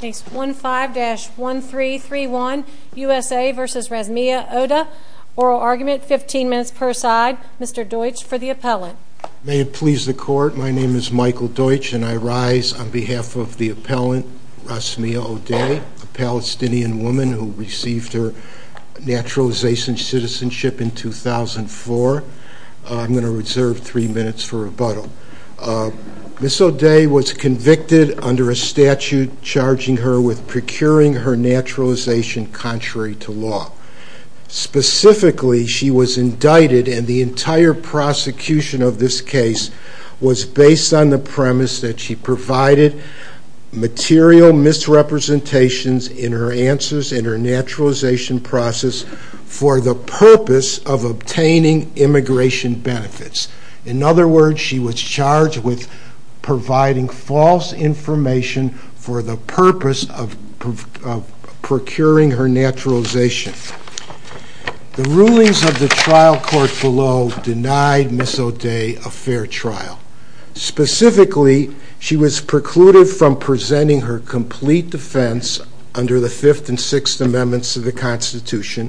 Case 15-1331 U.S.A. v. Rasmieh Odeh Oral argument, 15 minutes per side, Mr. Deutsch for the appellant May it please the court, my name is Michael Deutsch and I rise on behalf of the appellant Rasmieh Odeh, a Palestinian woman who received her naturalization citizenship in 2004. I'm going to reserve 3 minutes for rebuttal Ms. Odeh was convicted under a statute charging her with procuring her naturalization contrary to law. Specifically she was indicted and the entire prosecution of this case was based on the premise that she provided material misrepresentations in her answers and her naturalization process for the purpose of obtaining immigration benefits. In other words, she was charged with providing false information for the purpose of procuring her naturalization. The rulings of the trial court below denied Ms. Odeh a fair trial. Specifically, she was precluded from presenting her complete defense under the 5th and 6th amendments of the Constitution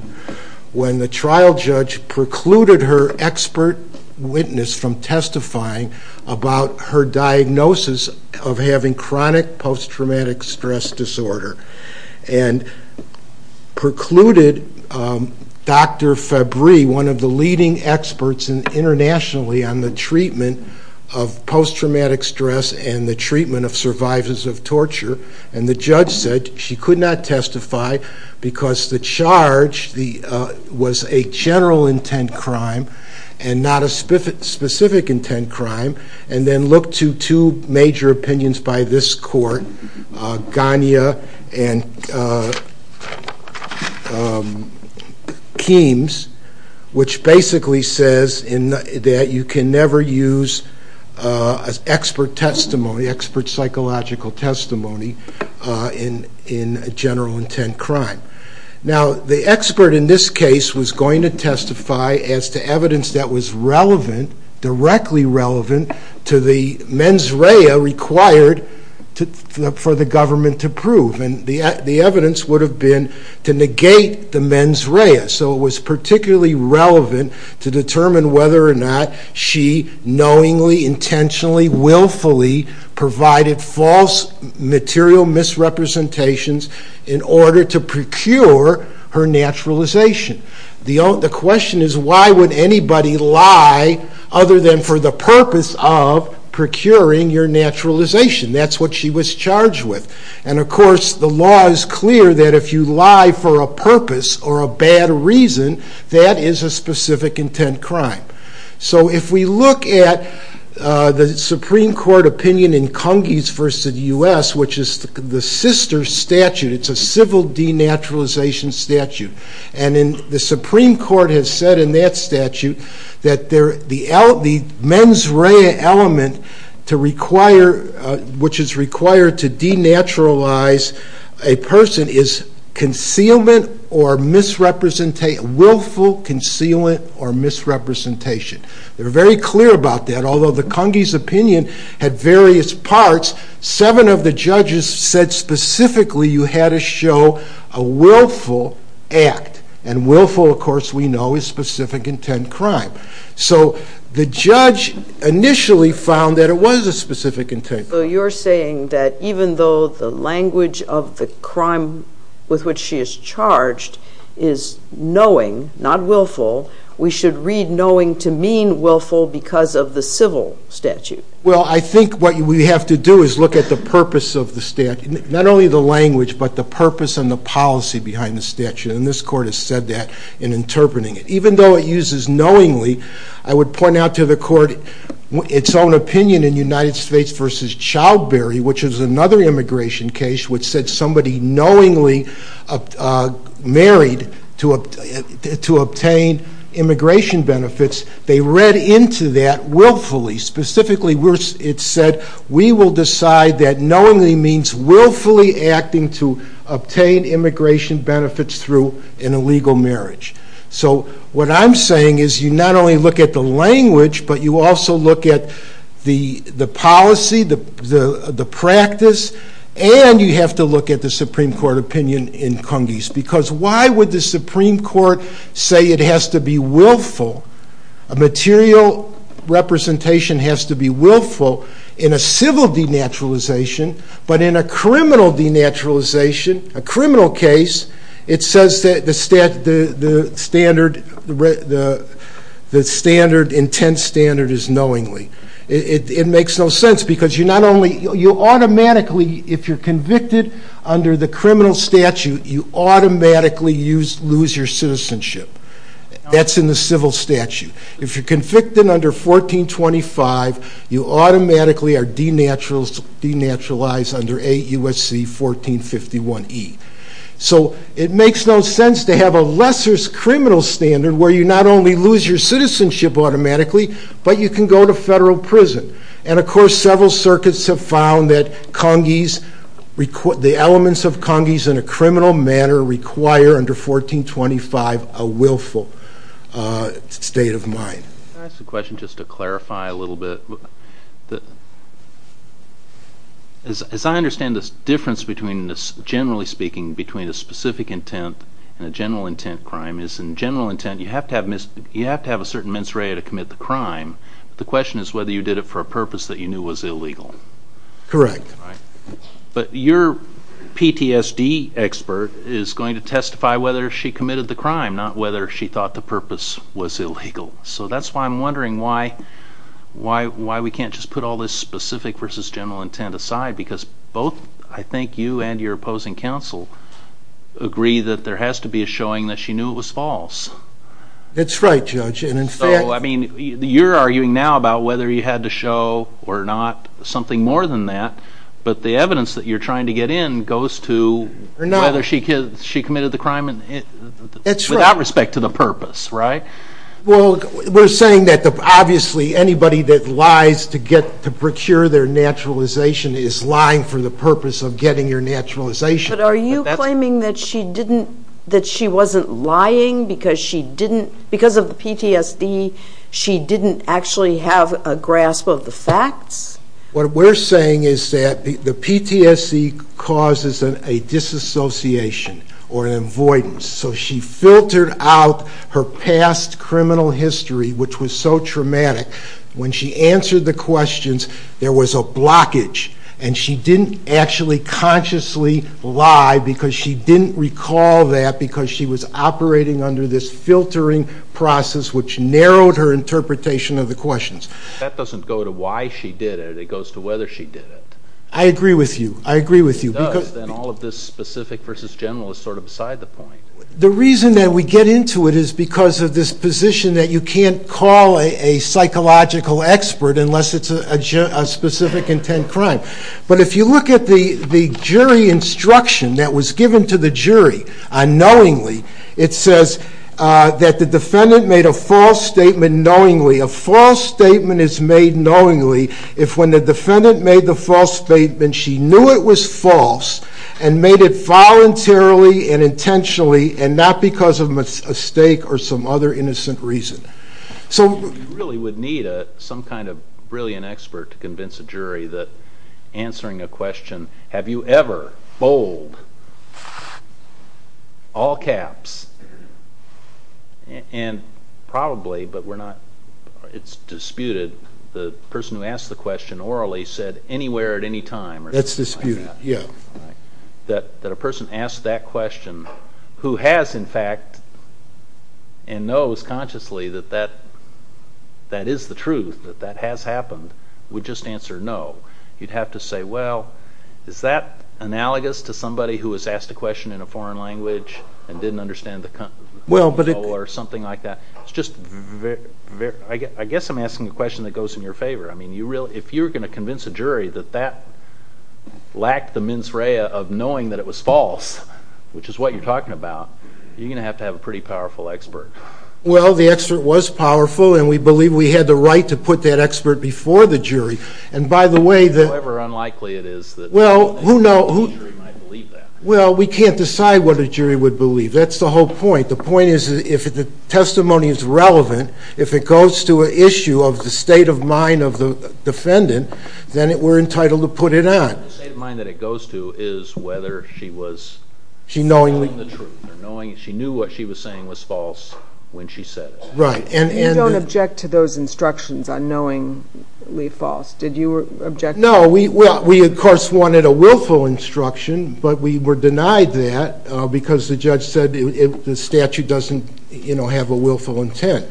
when the trial judge precluded her expert witness from testifying about her diagnosis of having chronic post-traumatic stress disorder and precluded Dr. Fabry one of the leading experts internationally on the treatment of post-traumatic stress and the treatment of survivors of torture and the judge said she could not testify because the charge was a general intent crime and not a specific intent crime and then looked to two major opinions by this court, Gania and Keams which basically says that you can never use expert testimony, expert psychological testimony in a general intent crime. Now, the expert in this case was going to testify as to evidence that was relevant, directly relevant to the mens rea required for the government to prove and the evidence would have been to negate the mens rea so it was particularly relevant to determine whether or not she knowingly, intentionally willfully provided false material misrepresentations in order to procure her naturalization. The question is why would anybody lie other than for the purpose of the law is clear that if you lie for a purpose or a bad reason that is a specific intent crime. So if we look at the Supreme Court opinion in Cungies v. U.S. which is the sister statute, it's a civil denaturalization statute and the Supreme Court has said in that statute that the mens rea element to require, which is required to denaturalize a person is concealment or misrepresentation, willful concealment or misrepresentation. They're very clear about that although the Cungies opinion had various parts, seven of the judges said specifically you had to show a willful act and willful of course we know is a specific intent crime. So the judge initially found that it was a specific intent. So you're saying that even though the language of the crime with which she is charged is knowing, not willful, we should read knowing to mean willful because of the civil statute? Well I think what we have to do is look at the purpose of the statute, not only the language but the even though it uses knowingly, I would point out to the court its own opinion in United States v. Childbury which is another immigration case which said somebody knowingly married to obtain immigration benefits, they read into that willfully, specifically it said we will decide that knowingly means willfully acting to What I'm saying is you not only look at the language but you also look at the policy, the practice and you have to look at the Supreme Court opinion in Cungies because why would the Supreme Court say it has to be willful, a material representation has to be willful in a civil denaturalization but in a criminal denaturalization a criminal case it says that the standard intense standard is knowingly, it makes no sense because you automatically if you're convicted under the criminal statute you automatically lose your citizenship, that's in the civil statute, if you're convicted under 1425 you automatically are denaturalized under AUSC 1451E so it makes no sense to have a lesser criminal standard where you not only lose your citizenship automatically but you can go to federal prison and of course several circuits have found that Cungies, the elements of Cungies in a criminal manner require under 1425 a willful state of mind. Can I ask a question just to clarify a little bit as I understand this difference between this generally speaking between a specific intent and a general intent crime is in general intent you have to have a certain mens rea to commit the crime, the question is whether you did it for a purpose that you knew was illegal. Correct. But your PTSD expert is going to testify whether she committed the crime not whether she thought the purpose was illegal so that's why I'm wondering why we can't just put all this specific versus general intent aside because both I think you and your opposing counsel agree that there has to be a showing that she knew it was false. That's right judge and in fact. So I mean you're arguing now about whether you had to show or not something more than that but the evidence that you're trying to get in goes to whether she committed the crime without respect to the purpose. Well we're saying that obviously anybody that lies to procure their naturalization is lying for the purpose of getting your naturalization. But are you claiming that she wasn't lying because of the PTSD she didn't actually have a grasp of the facts? What we're saying is that the PTSD causes a disassociation or an avoidance so she filtered out her past criminal history which was so traumatic when she answered the questions there was a blockage and she didn't actually consciously lie because she didn't recall that because she was operating under this filtering process which narrowed her interpretation of the questions. That doesn't go to why she did it it goes to whether she did it. I agree with you. It does then all of this specific versus general is sort of beside the point. The reason that we get into it is because of this position that you can't call a psychological expert unless it's a specific intent crime. But if you look at the jury instruction that was given to the jury unknowingly it says that the defendant made a false statement knowingly. A false statement is made knowingly if when the defendant made the false statement she knew it was false and made it voluntarily and intentionally and not because of mistake or some other innocent reason. You really would need some kind of brilliant expert to convince a jury that answering a question have you ever BOLD all caps and probably but it's disputed the person who asked the question orally said anywhere at any time. That's disputed. That a person asked that question who has in fact and knows consciously that that is the truth that that has happened would just answer no. You'd have to say well is that analogous to somebody who has asked a question in a foreign language and didn't understand the context or something like that. I guess I'm asking a question that goes in your favor. If you're going to say yes which is what you're talking about you're going to have to have a pretty powerful expert. Well the expert was powerful and we believe we had the right to put that expert before the jury and by the way. However unlikely it is. Well who knows. Well we can't decide what a jury would believe. That's the whole point. The point is if the testimony is relevant if it goes to an issue of the state of mind of the defendant then we're entitled to put it on. The state of mind that it goes to is whether she was knowing the truth. She knew what she was saying was false when she said it. Right. You don't object to those instructions on knowingly false. Did you object? No. We of course wanted a willful instruction but we were denied that because the judge said the statute doesn't have a willful intent.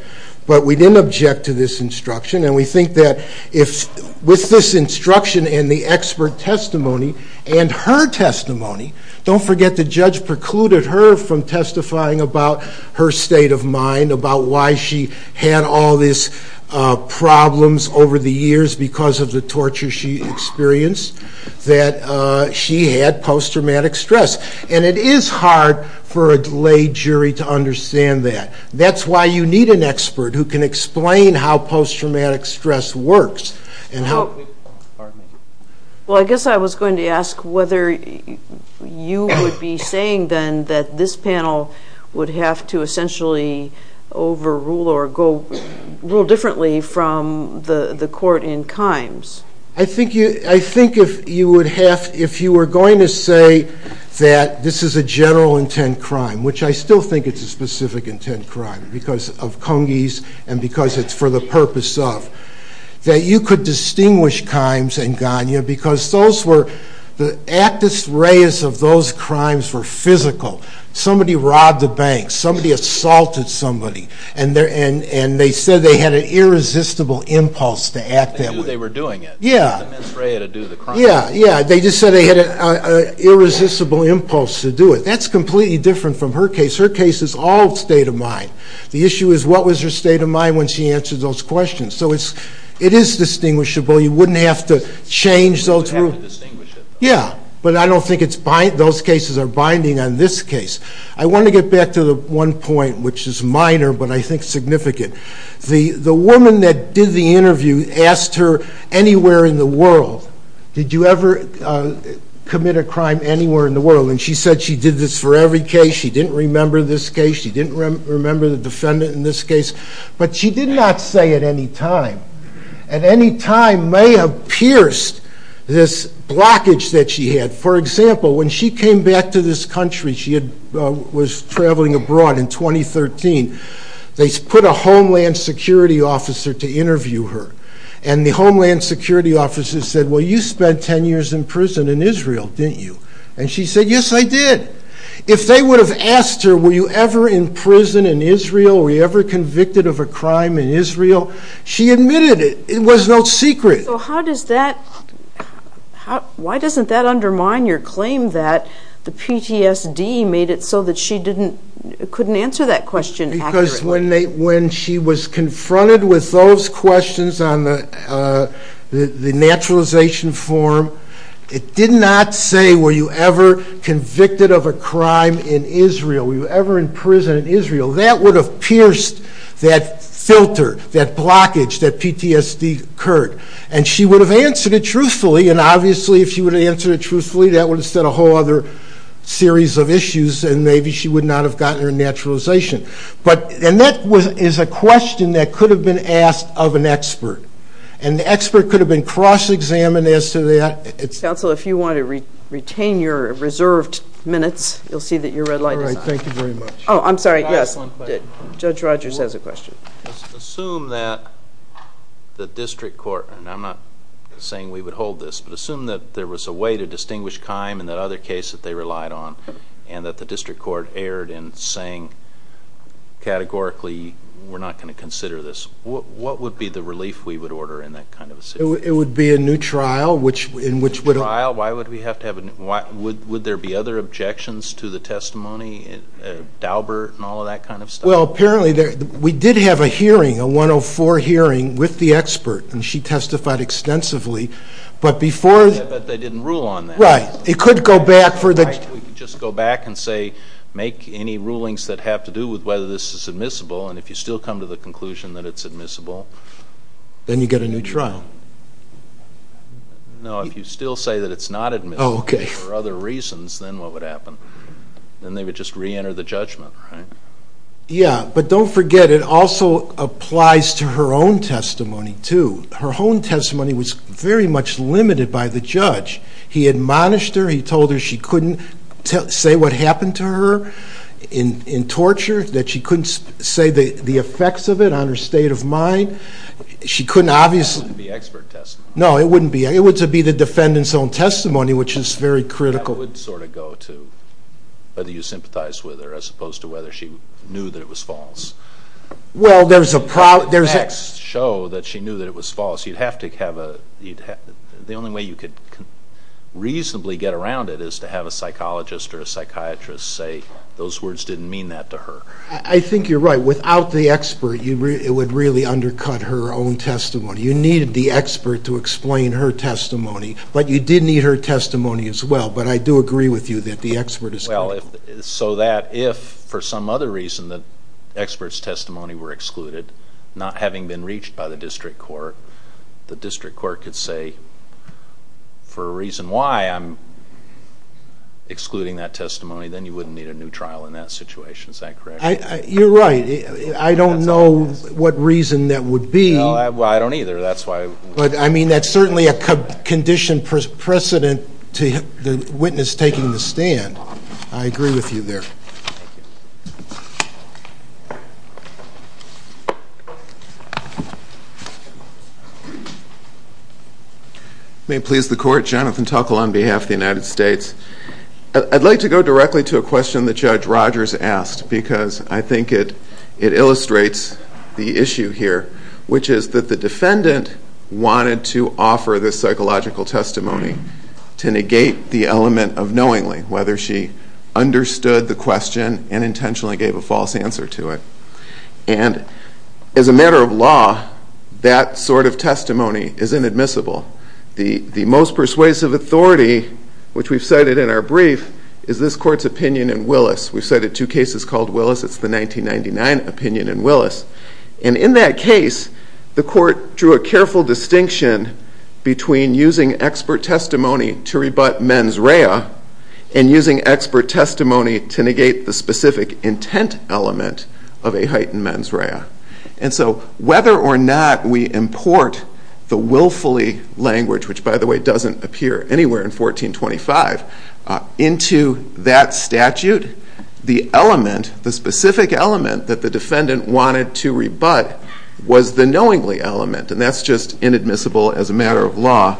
But we didn't object to this instruction and we think that with this instruction and the expert testimony and her testimony don't forget the judge precluded her from testifying about her state of mind about why she had all these problems over the years because of the torture she experienced that she had post-traumatic stress. And it is hard for a delayed jury to understand that. That's why you need an expert who can explain how post-traumatic stress works. Well I guess I was going to ask whether you would be saying then that this panel would have to essentially overrule or rule differently from the court in Kimes. I think if you were going to say that this is a general intent crime, which I still think it's a specific intent crime because of Congies and because it's for the purpose of, that you could distinguish Kimes and Ganya because those were, the actus reus of those crimes were physical. Somebody robbed a bank, somebody assaulted somebody and they said they had an irresistible impulse to act that way. Yeah, they just said they had an irresistible impulse to do it. That's completely different from her case. Her case is all state of mind. The issue is what was her state of mind when she answered those questions. So it is distinguishable. You wouldn't have to change those rules. Yeah, but I don't think that's what I think is significant. The woman that did the interview asked her anywhere in the world, did you ever commit a crime anywhere in the world? And she said she did this for every case. She didn't remember this case. She didn't remember the defendant in this case. But she did not say at any time. At any time may have pierced this blockage that she had. For example, when she came back to this country, she was traveling abroad in 2013, they put a homeland security officer to interview her. And the homeland security officer said, well you spent ten years in prison in Israel, didn't you? And she said, yes I did. If they would have asked her were you ever in prison in Israel, were you ever convicted of a crime in Israel, she admitted it. It was no secret. So how does that, why doesn't that undermine your claim that the PTSD made it so that she couldn't answer that question accurately? Because when she was confronted with those questions on the naturalization form, it did not say were you ever convicted of a crime in Israel, were you ever in prison in Israel. That would have filtered that blockage that PTSD occurred. And she would have answered it truthfully and obviously if she would have answered it truthfully, that would have set a whole other series of issues and maybe she would not have gotten her naturalization. And that is a question that could have been asked of an expert. And the expert could have been cross examined as to that. Counsel, if you want to retain your reserved minutes, you'll see that your red light is on. Oh, I'm sorry, yes. Judge Rogers has a question. Assume that the district court, and I'm not saying we would hold this, but assume that there was a way to distinguish time in that other case that they relied on and that the district court erred in saying categorically we're not going to consider this. What would be the relief we would order in that kind of a situation? It would be a new trial in which... A new trial? Would there be other objections to the testimony? Daubert and all of that kind of stuff? Well, apparently we did have a hearing, a 104 hearing with the expert and she testified extensively, but before... But they didn't rule on that. Right. It could go back for the... We could just go back and say make any rulings that have to do with whether this is admissible and if you still come to the conclusion that it's admissible. Then you get a new trial. No, if you still say that it's not admissible for other reasons, then what would happen? Then they would just re-enter the judgment, right? Yeah, but don't forget it also applies to her own testimony too. Her own testimony was very much limited by the judge. He admonished her, he told her she couldn't say what happened to her in torture, that she couldn't say the effects of it on her state of mind. She couldn't obviously... It wouldn't be expert testimony. No, it wouldn't be. It would be the defendant's own testimony, which is very critical. That would sort of go to whether you sympathize with her as opposed to whether she knew that it was false. Well, there's a... If you had to show that she knew that it was false, you'd have to have a... The only way you could reasonably get around it is to have a psychologist or a psychiatrist say those words didn't mean that to her. I think you're right. Without the expert, it would really undercut her own testimony. You needed the expert to explain her testimony. But you did need her testimony as well. But I do agree with you that the expert is... So that if, for some other reason, the expert's testimony were excluded, not having been reached by the district court, the district court could say, for a reason why I'm excluding that testimony, then you wouldn't need a new trial in that situation. Is that correct? You're right. I don't know what reason that would be. Well, I don't either. That's why... But I mean, that's certainly a conditioned precedent to the witness taking the stand. I agree with you there. Thank you. May it please the court, Jonathan Tuckle on behalf of the United States. I'd like to go directly to a question that Judge Rogers asked, because I think it illustrates the issue here, which is that the defendant wanted to offer this psychological testimony to negate the element of knowingly, whether she understood the question and intentionally gave a false answer to it. And as a matter of law, that sort of testimony is inadmissible. The most persuasive authority, which we've cited in our brief, is this court's opinion in Willis. We've cited two cases called Willis. It's the 1999 opinion in Willis. And in that case, the court drew a careful distinction between using expert testimony to negate the specific intent element of a heightened mens rea. And so, whether or not we import the willfully language, which, by the way, doesn't appear anywhere in 1425, into that statute, the element, the specific element that the defendant wanted to rebut was the knowingly element. And that's just inadmissible as a matter of law. I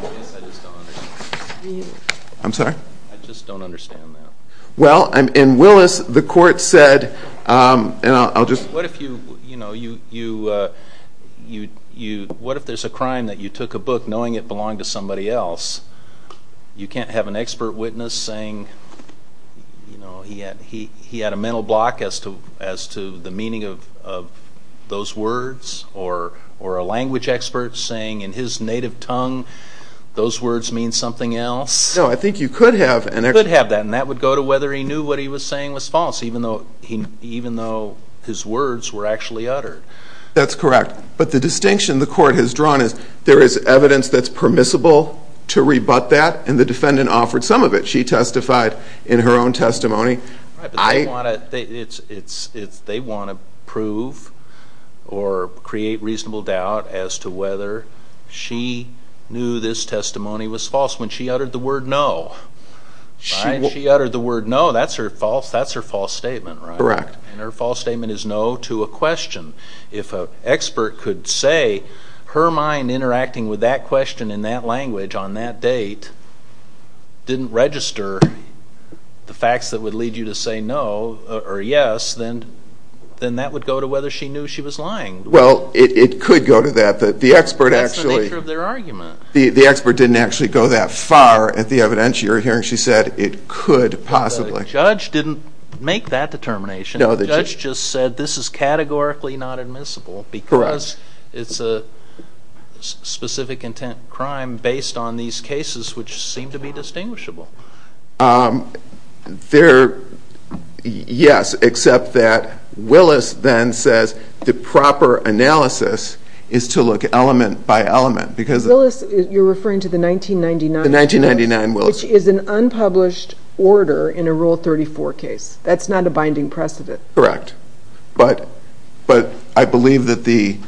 just don't understand that. Well, in Willis, the court said, and I'll just... What if there's a crime that you took a book knowing it belonged to somebody else? You can't have an expert witness saying he had a mental block as to the meaning of those words, or a language expert saying in his native tongue those words mean something else. No, I think you could have... You could have that, and that would go to whether he knew what he was saying was false, even though his words were actually uttered. That's correct. But the distinction the court has drawn is there is evidence that's permissible to rebut that, and the defendant offered some of it. She testified in her own testimony. Right, but they want to prove or create reasonable doubt as to whether she knew this testimony was false when she uttered the word no. She uttered the word no, that's her false statement, right? Correct. And her false statement is no to a question. If an expert could say her mind interacting with that question in that language on that date didn't register the facts that would lead you to say no or yes, then that would go to whether she knew she was lying. Well, it could go to that. That's the nature of their argument. The expert didn't actually go that far at the evidence you're hearing. She said it could possibly. The judge didn't make that determination. The judge just said this is categorically not admissible because it's a specific intent crime based on these cases which seem to be distinguishable. Yes, except that Willis then says the proper analysis is to look element by element. Willis, you're referring to the 1999 case, which is an unpublished order in a Rule 34 case. That's not a binding precedent. Correct, but I believe that the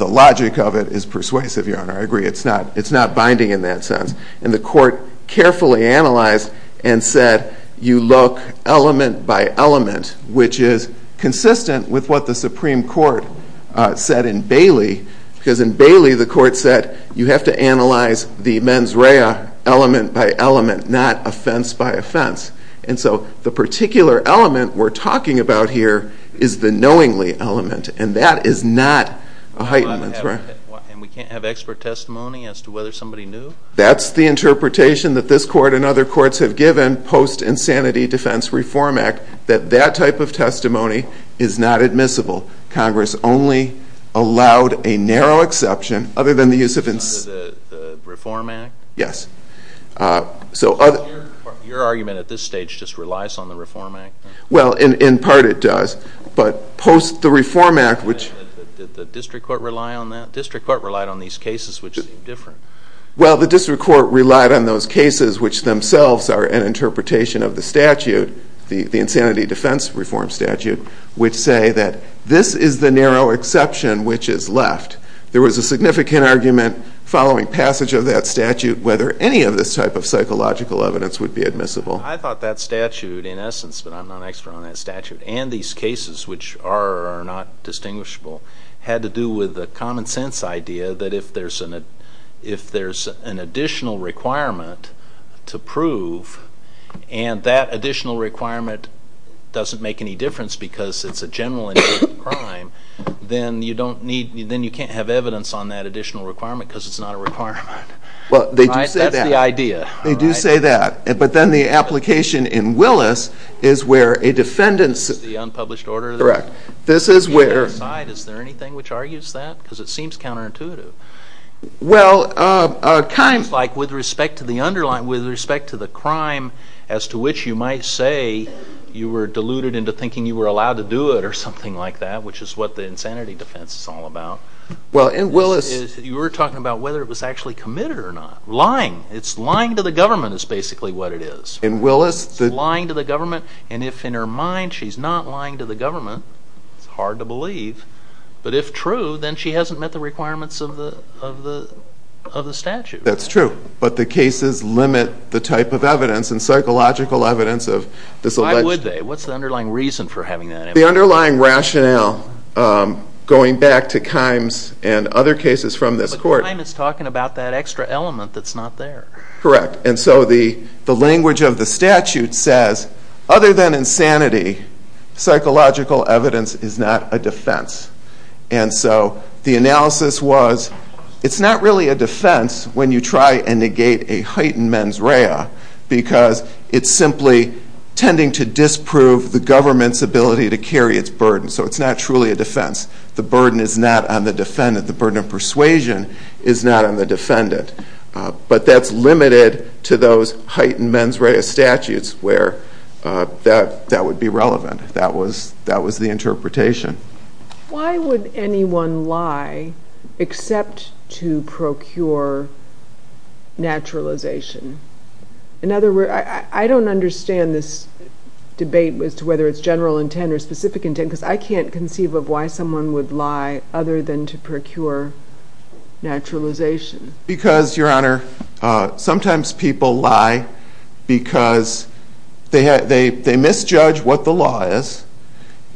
logic of it is persuasive, Your Honor. I agree. It's not binding in that sense. And the court carefully analyzed and said you look element by element, which is consistent with what the Supreme Court said in Bailey, because in Bailey the court said you have to analyze the mens rea element by element, not offense by offense. And so the particular element we're talking about here is the knowingly element, and that is not a heightenment. And we can't have expert testimony as to whether somebody knew? That's the interpretation that this court and other courts have given post-Insanity Defense Reform Act that that type of testimony is not admissible. Congress only allowed a narrow exception, other than the use of... Under the Reform Act? Yes. Your argument at this stage just relies on the Reform Act? Well, in part it does, but post the Reform Act, which... Did the District Court rely on that? District Court relied on these cases, which seem different. Well, the District Court relied on those cases, which themselves are an interpretation of the statute, the narrow exception which is left. There was a significant argument following passage of that statute whether any of this type of psychological evidence would be admissible. I thought that statute, in essence, but I'm not an expert on that statute, and these cases which are or are not distinguishable, had to do with the common sense idea that if there's an additional requirement to prove, and that additional requirement doesn't make any difference because it's a general and unique crime, then you don't need, then you can't have evidence on that additional requirement because it's not a requirement. Well, they do say that. That's the idea. They do say that, but then the application in Willis is where a defendant's... The unpublished order? Correct. This is where... Is there anything which argues that? Because it seems counterintuitive. Well, it seems like with respect to the crime as to which you might say you were deluded into thinking you were allowed to do it or something like that, which is what the insanity defense is all about. You were talking about whether it was actually committed or not. Lying. Lying to the government is basically what it is. Lying to the government, and if in her mind she's not lying to the government, it's hard to believe, but if true, then she hasn't met the requirements of the statute. That's true, but the cases limit the type of evidence and psychological evidence of this alleged... Why would they? What's the underlying reason for having that evidence? The underlying rationale going back to Kimes and other cases from this court... But Kimes is talking about that extra element that's not there. Correct, and so the language of the statute says other than insanity, psychological evidence is not a defense, and so the analysis was it's not really a defense when you try and negate a heightened mens rea because it's simply tending to disprove the government's ability to carry its burden, so it's not truly a defense. The burden is not on the defendant. The burden of persuasion is not on the defendant, but that's limited to those heightened mens rea statutes where that would be relevant. That was the interpretation. Why would anyone lie except to procure naturalization? I don't understand this debate as to whether it's general intent or specific intent because I can't conceive of why someone would lie other than to procure naturalization. Because, Your Honor, sometimes people lie because they misjudge what the law is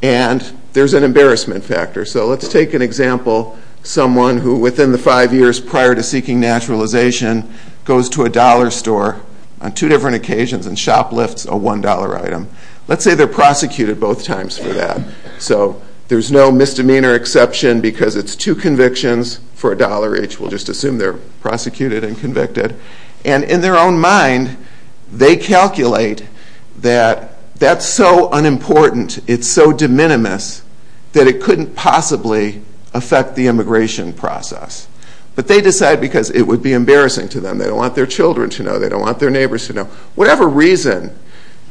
and there's an embarrassment factor. So let's take an example. Someone who within the five years prior to seeking naturalization goes to a dollar store on two different occasions and shoplifts a one dollar item. Let's say they're prosecuted both times for that. So there's no misdemeanor exception because it's two convictions for a dollar each. We'll just assume they're prosecuted and convicted. And in their own mind, they calculate that that's so unimportant, it's so de minimis, that it couldn't possibly affect the immigration process. But they decide because it would be embarrassing to them. They don't want their children to know. They don't want their neighbors to know. Whatever reason,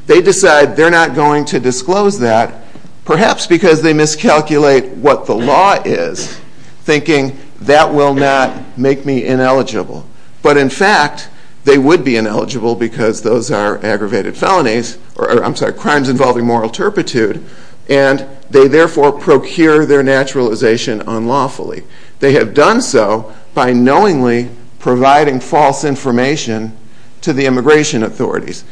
they decide they're not going to disclose that, perhaps because they miscalculate what the law is, thinking that will not make me ineligible. But in fact, they would be ineligible because those are aggravated felonies, or I'm sorry, crimes involving moral turpitude, and they therefore procure their naturalization unlawfully. They have done so by knowingly providing false information to the immigration authorities.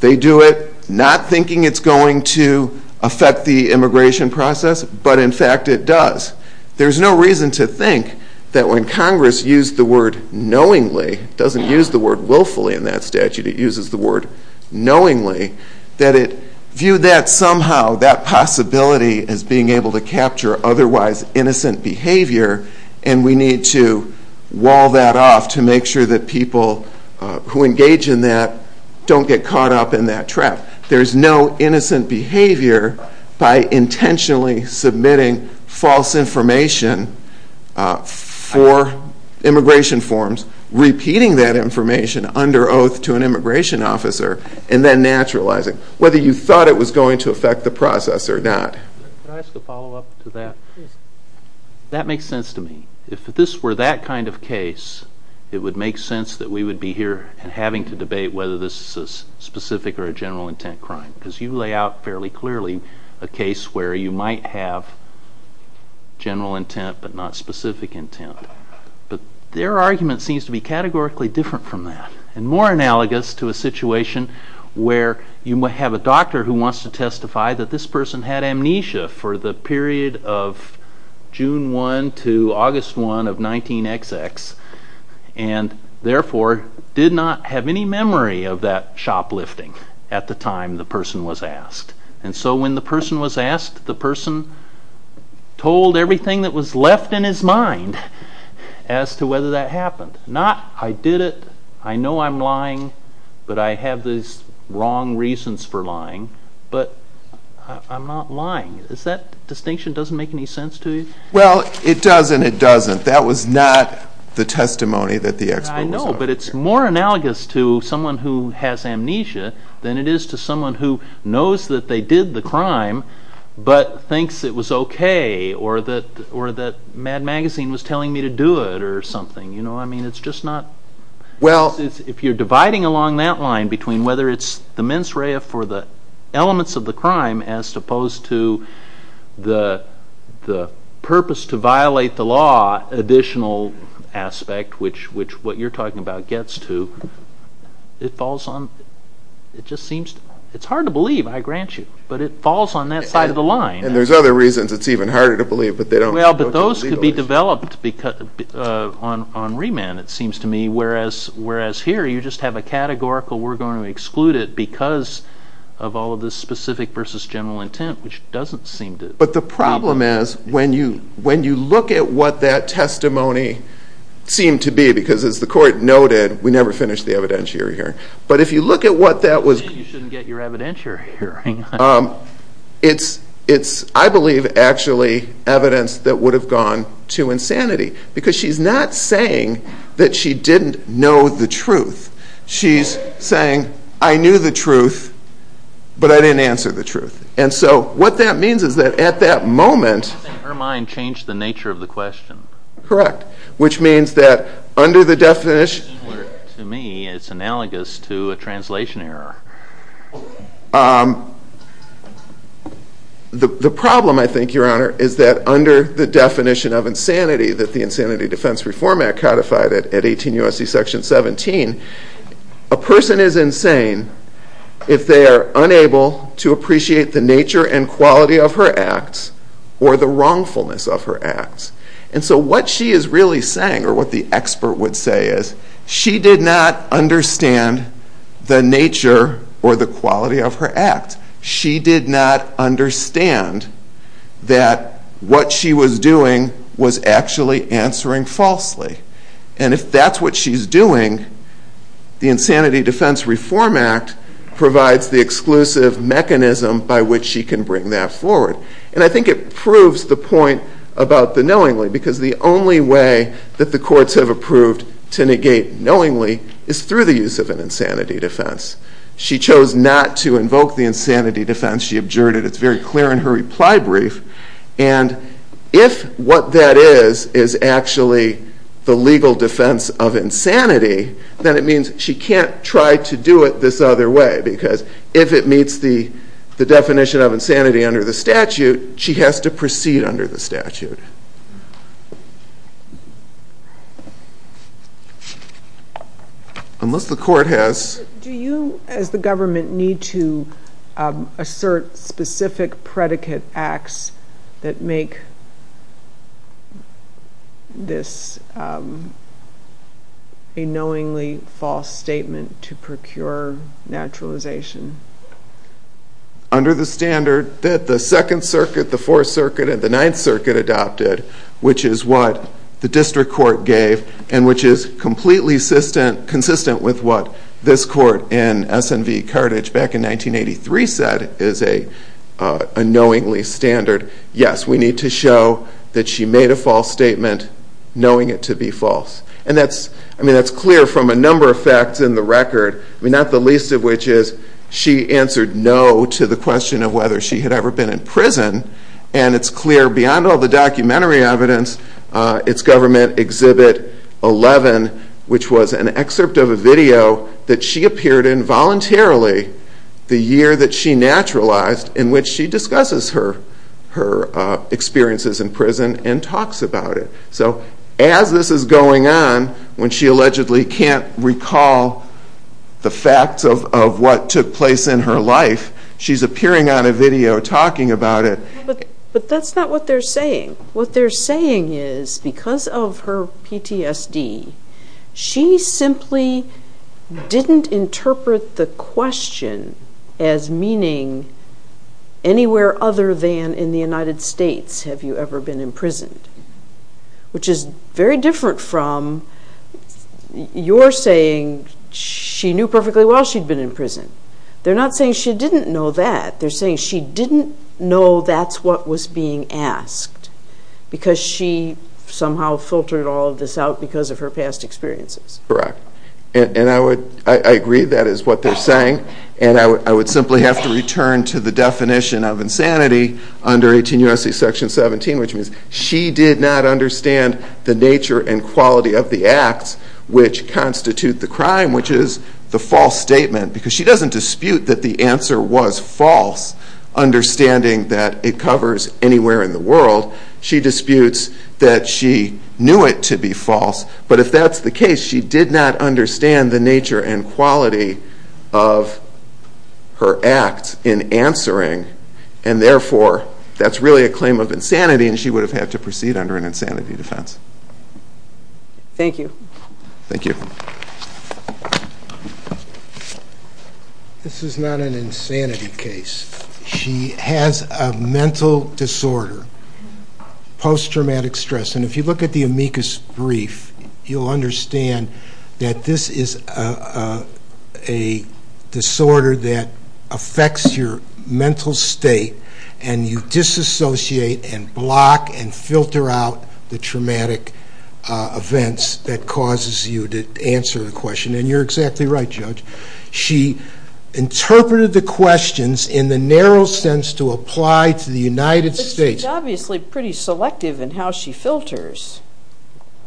They do it not thinking it's going to affect the immigration process, but in fact it does. There's no reason to think that when Congress used the word knowingly, it doesn't use the word willfully in that statute, it uses the word knowingly, that it viewed that somehow, that possibility as being able to capture otherwise innocent behavior, and we need to wall that off to make sure that people who engage in that don't get caught up in that trap. There's no innocent behavior by intentionally submitting false information for immigration forms, repeating that information under oath to an immigration officer, and then naturalizing, whether you thought it was going to affect the process or not. Can I ask a follow-up to that? Yes. That makes sense to me. If this were that kind of case, it would make sense that we would be here and having to debate whether this is a specific or a general intent crime, because you lay out fairly clearly a case where you might have general intent, but not and more analogous to a situation where you might have a doctor who wants to testify that this person had amnesia for the period of June 1 to August 1 of 19XX, and therefore did not have any memory of that shoplifting at the time the person was asked. So when the person was asked, the person told everything that was left in his mind. Not, I did it, I know I'm lying, but I have these wrong reasons for lying, but I'm not lying. Does that distinction make any sense to you? Well, it does and it doesn't. That was not the testimony that the expo was about. I know, but it's more analogous to someone who has amnesia than it is to someone who knows that they did the crime, but thinks it was okay or that Mad Magazine was telling me to do it or something. It's just not, if you're dividing along that line between whether it's the mens rea for the elements of the crime as opposed to the purpose to violate the law additional aspect, which what you're talking about gets to, it falls on, it just seems, it's hard to believe, I grant you, but it falls on that side of the line. And there's other reasons it's even harder to believe, but they don't. Well, but those could be developed on remand it seems to me, whereas here you just have a categorical we're going to exclude it because of all of this specific versus general intent, which doesn't seem to. But the problem is when you look at what that testimony seemed to be, because as the court noted, we never finished the evidentiary hearing. But if you look at what that was. You shouldn't get your evidentiary hearing. It's, I believe, actually evidence that would have gone to insanity because she's not saying that she didn't know the truth. She's saying, I knew the truth, but I didn't answer the truth. And so what that means is that at that moment. Her mind changed the nature of the question. Correct. Which means that under the definition. To me, it's analogous to a translation error. The problem, I think, Your Honor, is that under the definition of insanity that the Insanity Defense Reform Act codified at 18 U.S.C. Section 17, a person is insane if they are unable to appreciate the nature and quality of her acts or the wrongfulness of her acts. And so what she is really saying, or what the expert would say is, she did not understand the nature or the quality of her acts. She did not understand that what she was doing was actually answering falsely. And if that's what she's doing, the Insanity Defense Reform Act provides the exclusive mechanism by which she can bring that forward. And I think it proves the point about the knowingly because the only way that the courts have approved to negate knowingly is through the use of an insanity defense. She chose not to invoke the insanity defense. She objured it. It's very clear in her reply brief. And if what that is, is actually the legal defense of insanity, then it means she can't try to do it this other way because if it meets the definition of insanity under the statute, she has to proceed under the statute. Unless the court has... Do you, as the government, need to assert specific predicate acts that make this a knowingly false statement to procure naturalization? Under the standard that the Second Circuit, the Fourth Circuit, and the Ninth Circuit adopted, which is what the District Court in SNV Carthage back in 1983 said is a knowingly standard, yes, we need to show that she made a false statement knowing it to be false. And that's clear from a number of facts in the record. Not the least of which is she answered no to the question of whether she had ever been in prison. And it's clear beyond all the documentary evidence, it's clear beyond the fact that the government exhibit 11, which was an excerpt of a video that she appeared in voluntarily the year that she naturalized, in which she discusses her experiences in prison and talks about it. So as this is going on, when she allegedly can't recall the facts of what took place in her life, she's appearing on a video talking about it. But that's not what they're saying. What they're saying is because of her PTSD, she simply didn't interpret the question as meaning anywhere other than in the United States have you ever been imprisoned. Which is very different from your saying she knew perfectly well she'd been in prison. They're not saying she didn't know that. They're saying she didn't know that's what was being asked because she somehow filtered all of this out because of her past experiences. Correct. And I agree that is what they're saying. And I would simply have to return to the definition of insanity under 18 U.S.C. Section 17, which means she did not understand the nature and quality of the acts which constitute the crime, which is the false statement. Because she doesn't dispute that the answer was false, understanding that it covers anywhere in the world. She disputes that she knew it to be false. But if that's the case, she did not understand the nature and quality of her acts in answering. And Thank you. Thank you. This is not an insanity case. She has a mental disorder, post-traumatic stress. And if you look at the amicus brief, you'll understand that this is a disorder that affects your mental state and you associate and block and filter out the traumatic events that causes you to answer the question. And you're exactly right, Judge. She interpreted the questions in the narrow sense to apply to the United States. But she's obviously pretty selective in how she filters.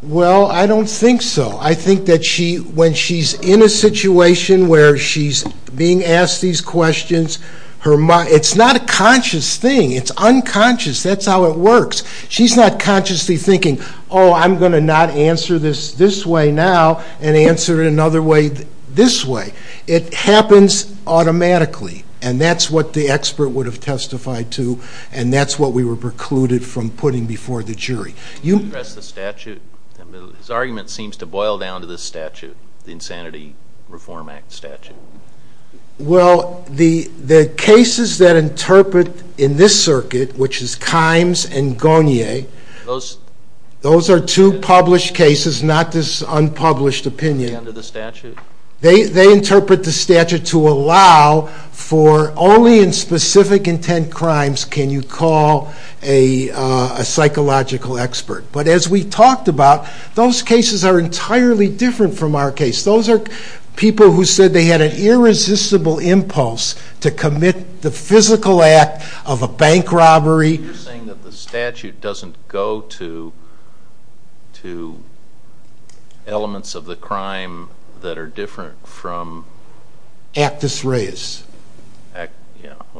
Well, I don't think so. I think that when she's in a situation where she's being asked these questions, it's not a conscious thing. It's unconscious. That's how it works. She's not consciously thinking, oh, I'm going to not answer this this way now and answer it another way this way. It happens automatically. And that's what the expert would have testified to. And that's what we were precluded from putting before the jury. Can you address the statute? His Well, the cases that interpret in this circuit, which is Kimes and Garnier, those are two published cases, not this unpublished opinion. Under the statute? They interpret the statute to allow for only in specific intent crimes can you call a psychological expert. But as we talked about, those cases are to commit the physical act of a bank robbery. You're saying that the statute doesn't go to elements of the crime that are different from... Actus Reis.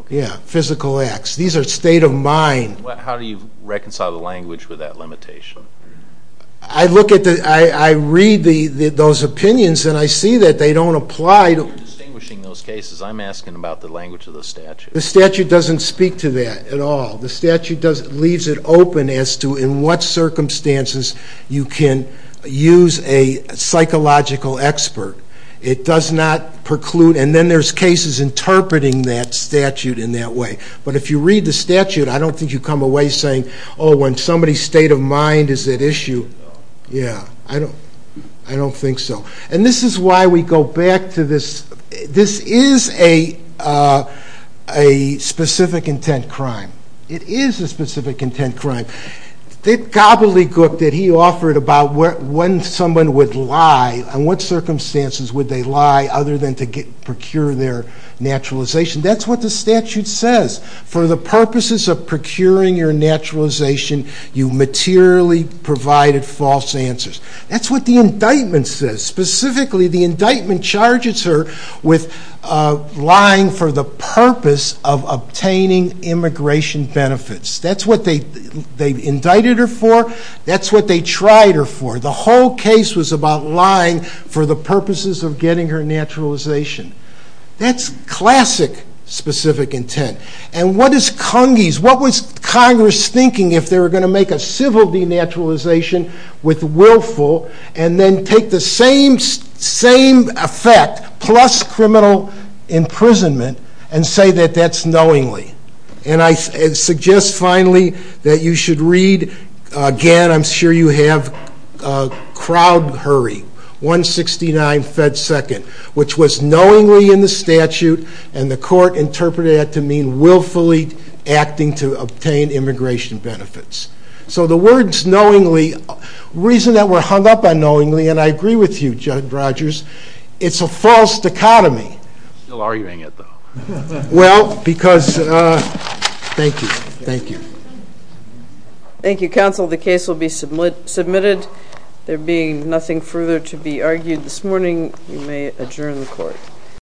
Yeah. Physical acts. These are state of mind. How do you reconcile the language with that limitation? I look at the... I read those opinions and I see that they don't apply to... You're distinguishing those cases. I'm asking about the language of the statute. The statute doesn't speak to that at all. The statute leaves it open as to in what circumstances you can use a psychological expert. It does not preclude... And then there's cases interpreting that statute in that way. But if you read the statute, I don't think you come away saying, oh, when somebody's state of mind is at issue. Yeah. I don't think so. And this is why we go back to this. This is a specific intent crime. It is a specific intent crime. That gobbledygook that he offered about when someone would lie and what circumstances would they lie other than to procure their naturalization. That's what the statute says. For the purposes of procuring your naturalization, you materially provided false answers. That's what the indictment says. Specifically, the indictment charges her with lying for the purpose of obtaining immigration benefits. That's what they indicted her for. That's what they tried her for. The whole case was about lying for the purposes of getting her naturalization. That's classic specific intent. And what is Cungie's? What was Congress thinking if they were going to make a civil denaturalization with willful and then take the same effect plus criminal imprisonment and say that that's knowingly? And I suggest finally that you should read, again, I'm sure you have Crowd Hurry, 169 Fed Second, which was knowingly in the statute and the court interpreted that to mean willfully acting to obtain immigration benefits. So the words knowingly, the reason that we're hung up on knowingly, and I agree with you, Judge Rogers, it's a false dichotomy. Well, because thank you. Thank you. Thank you, counsel. The case will be submitted. There being nothing further to be argued this morning, we may adjourn the court.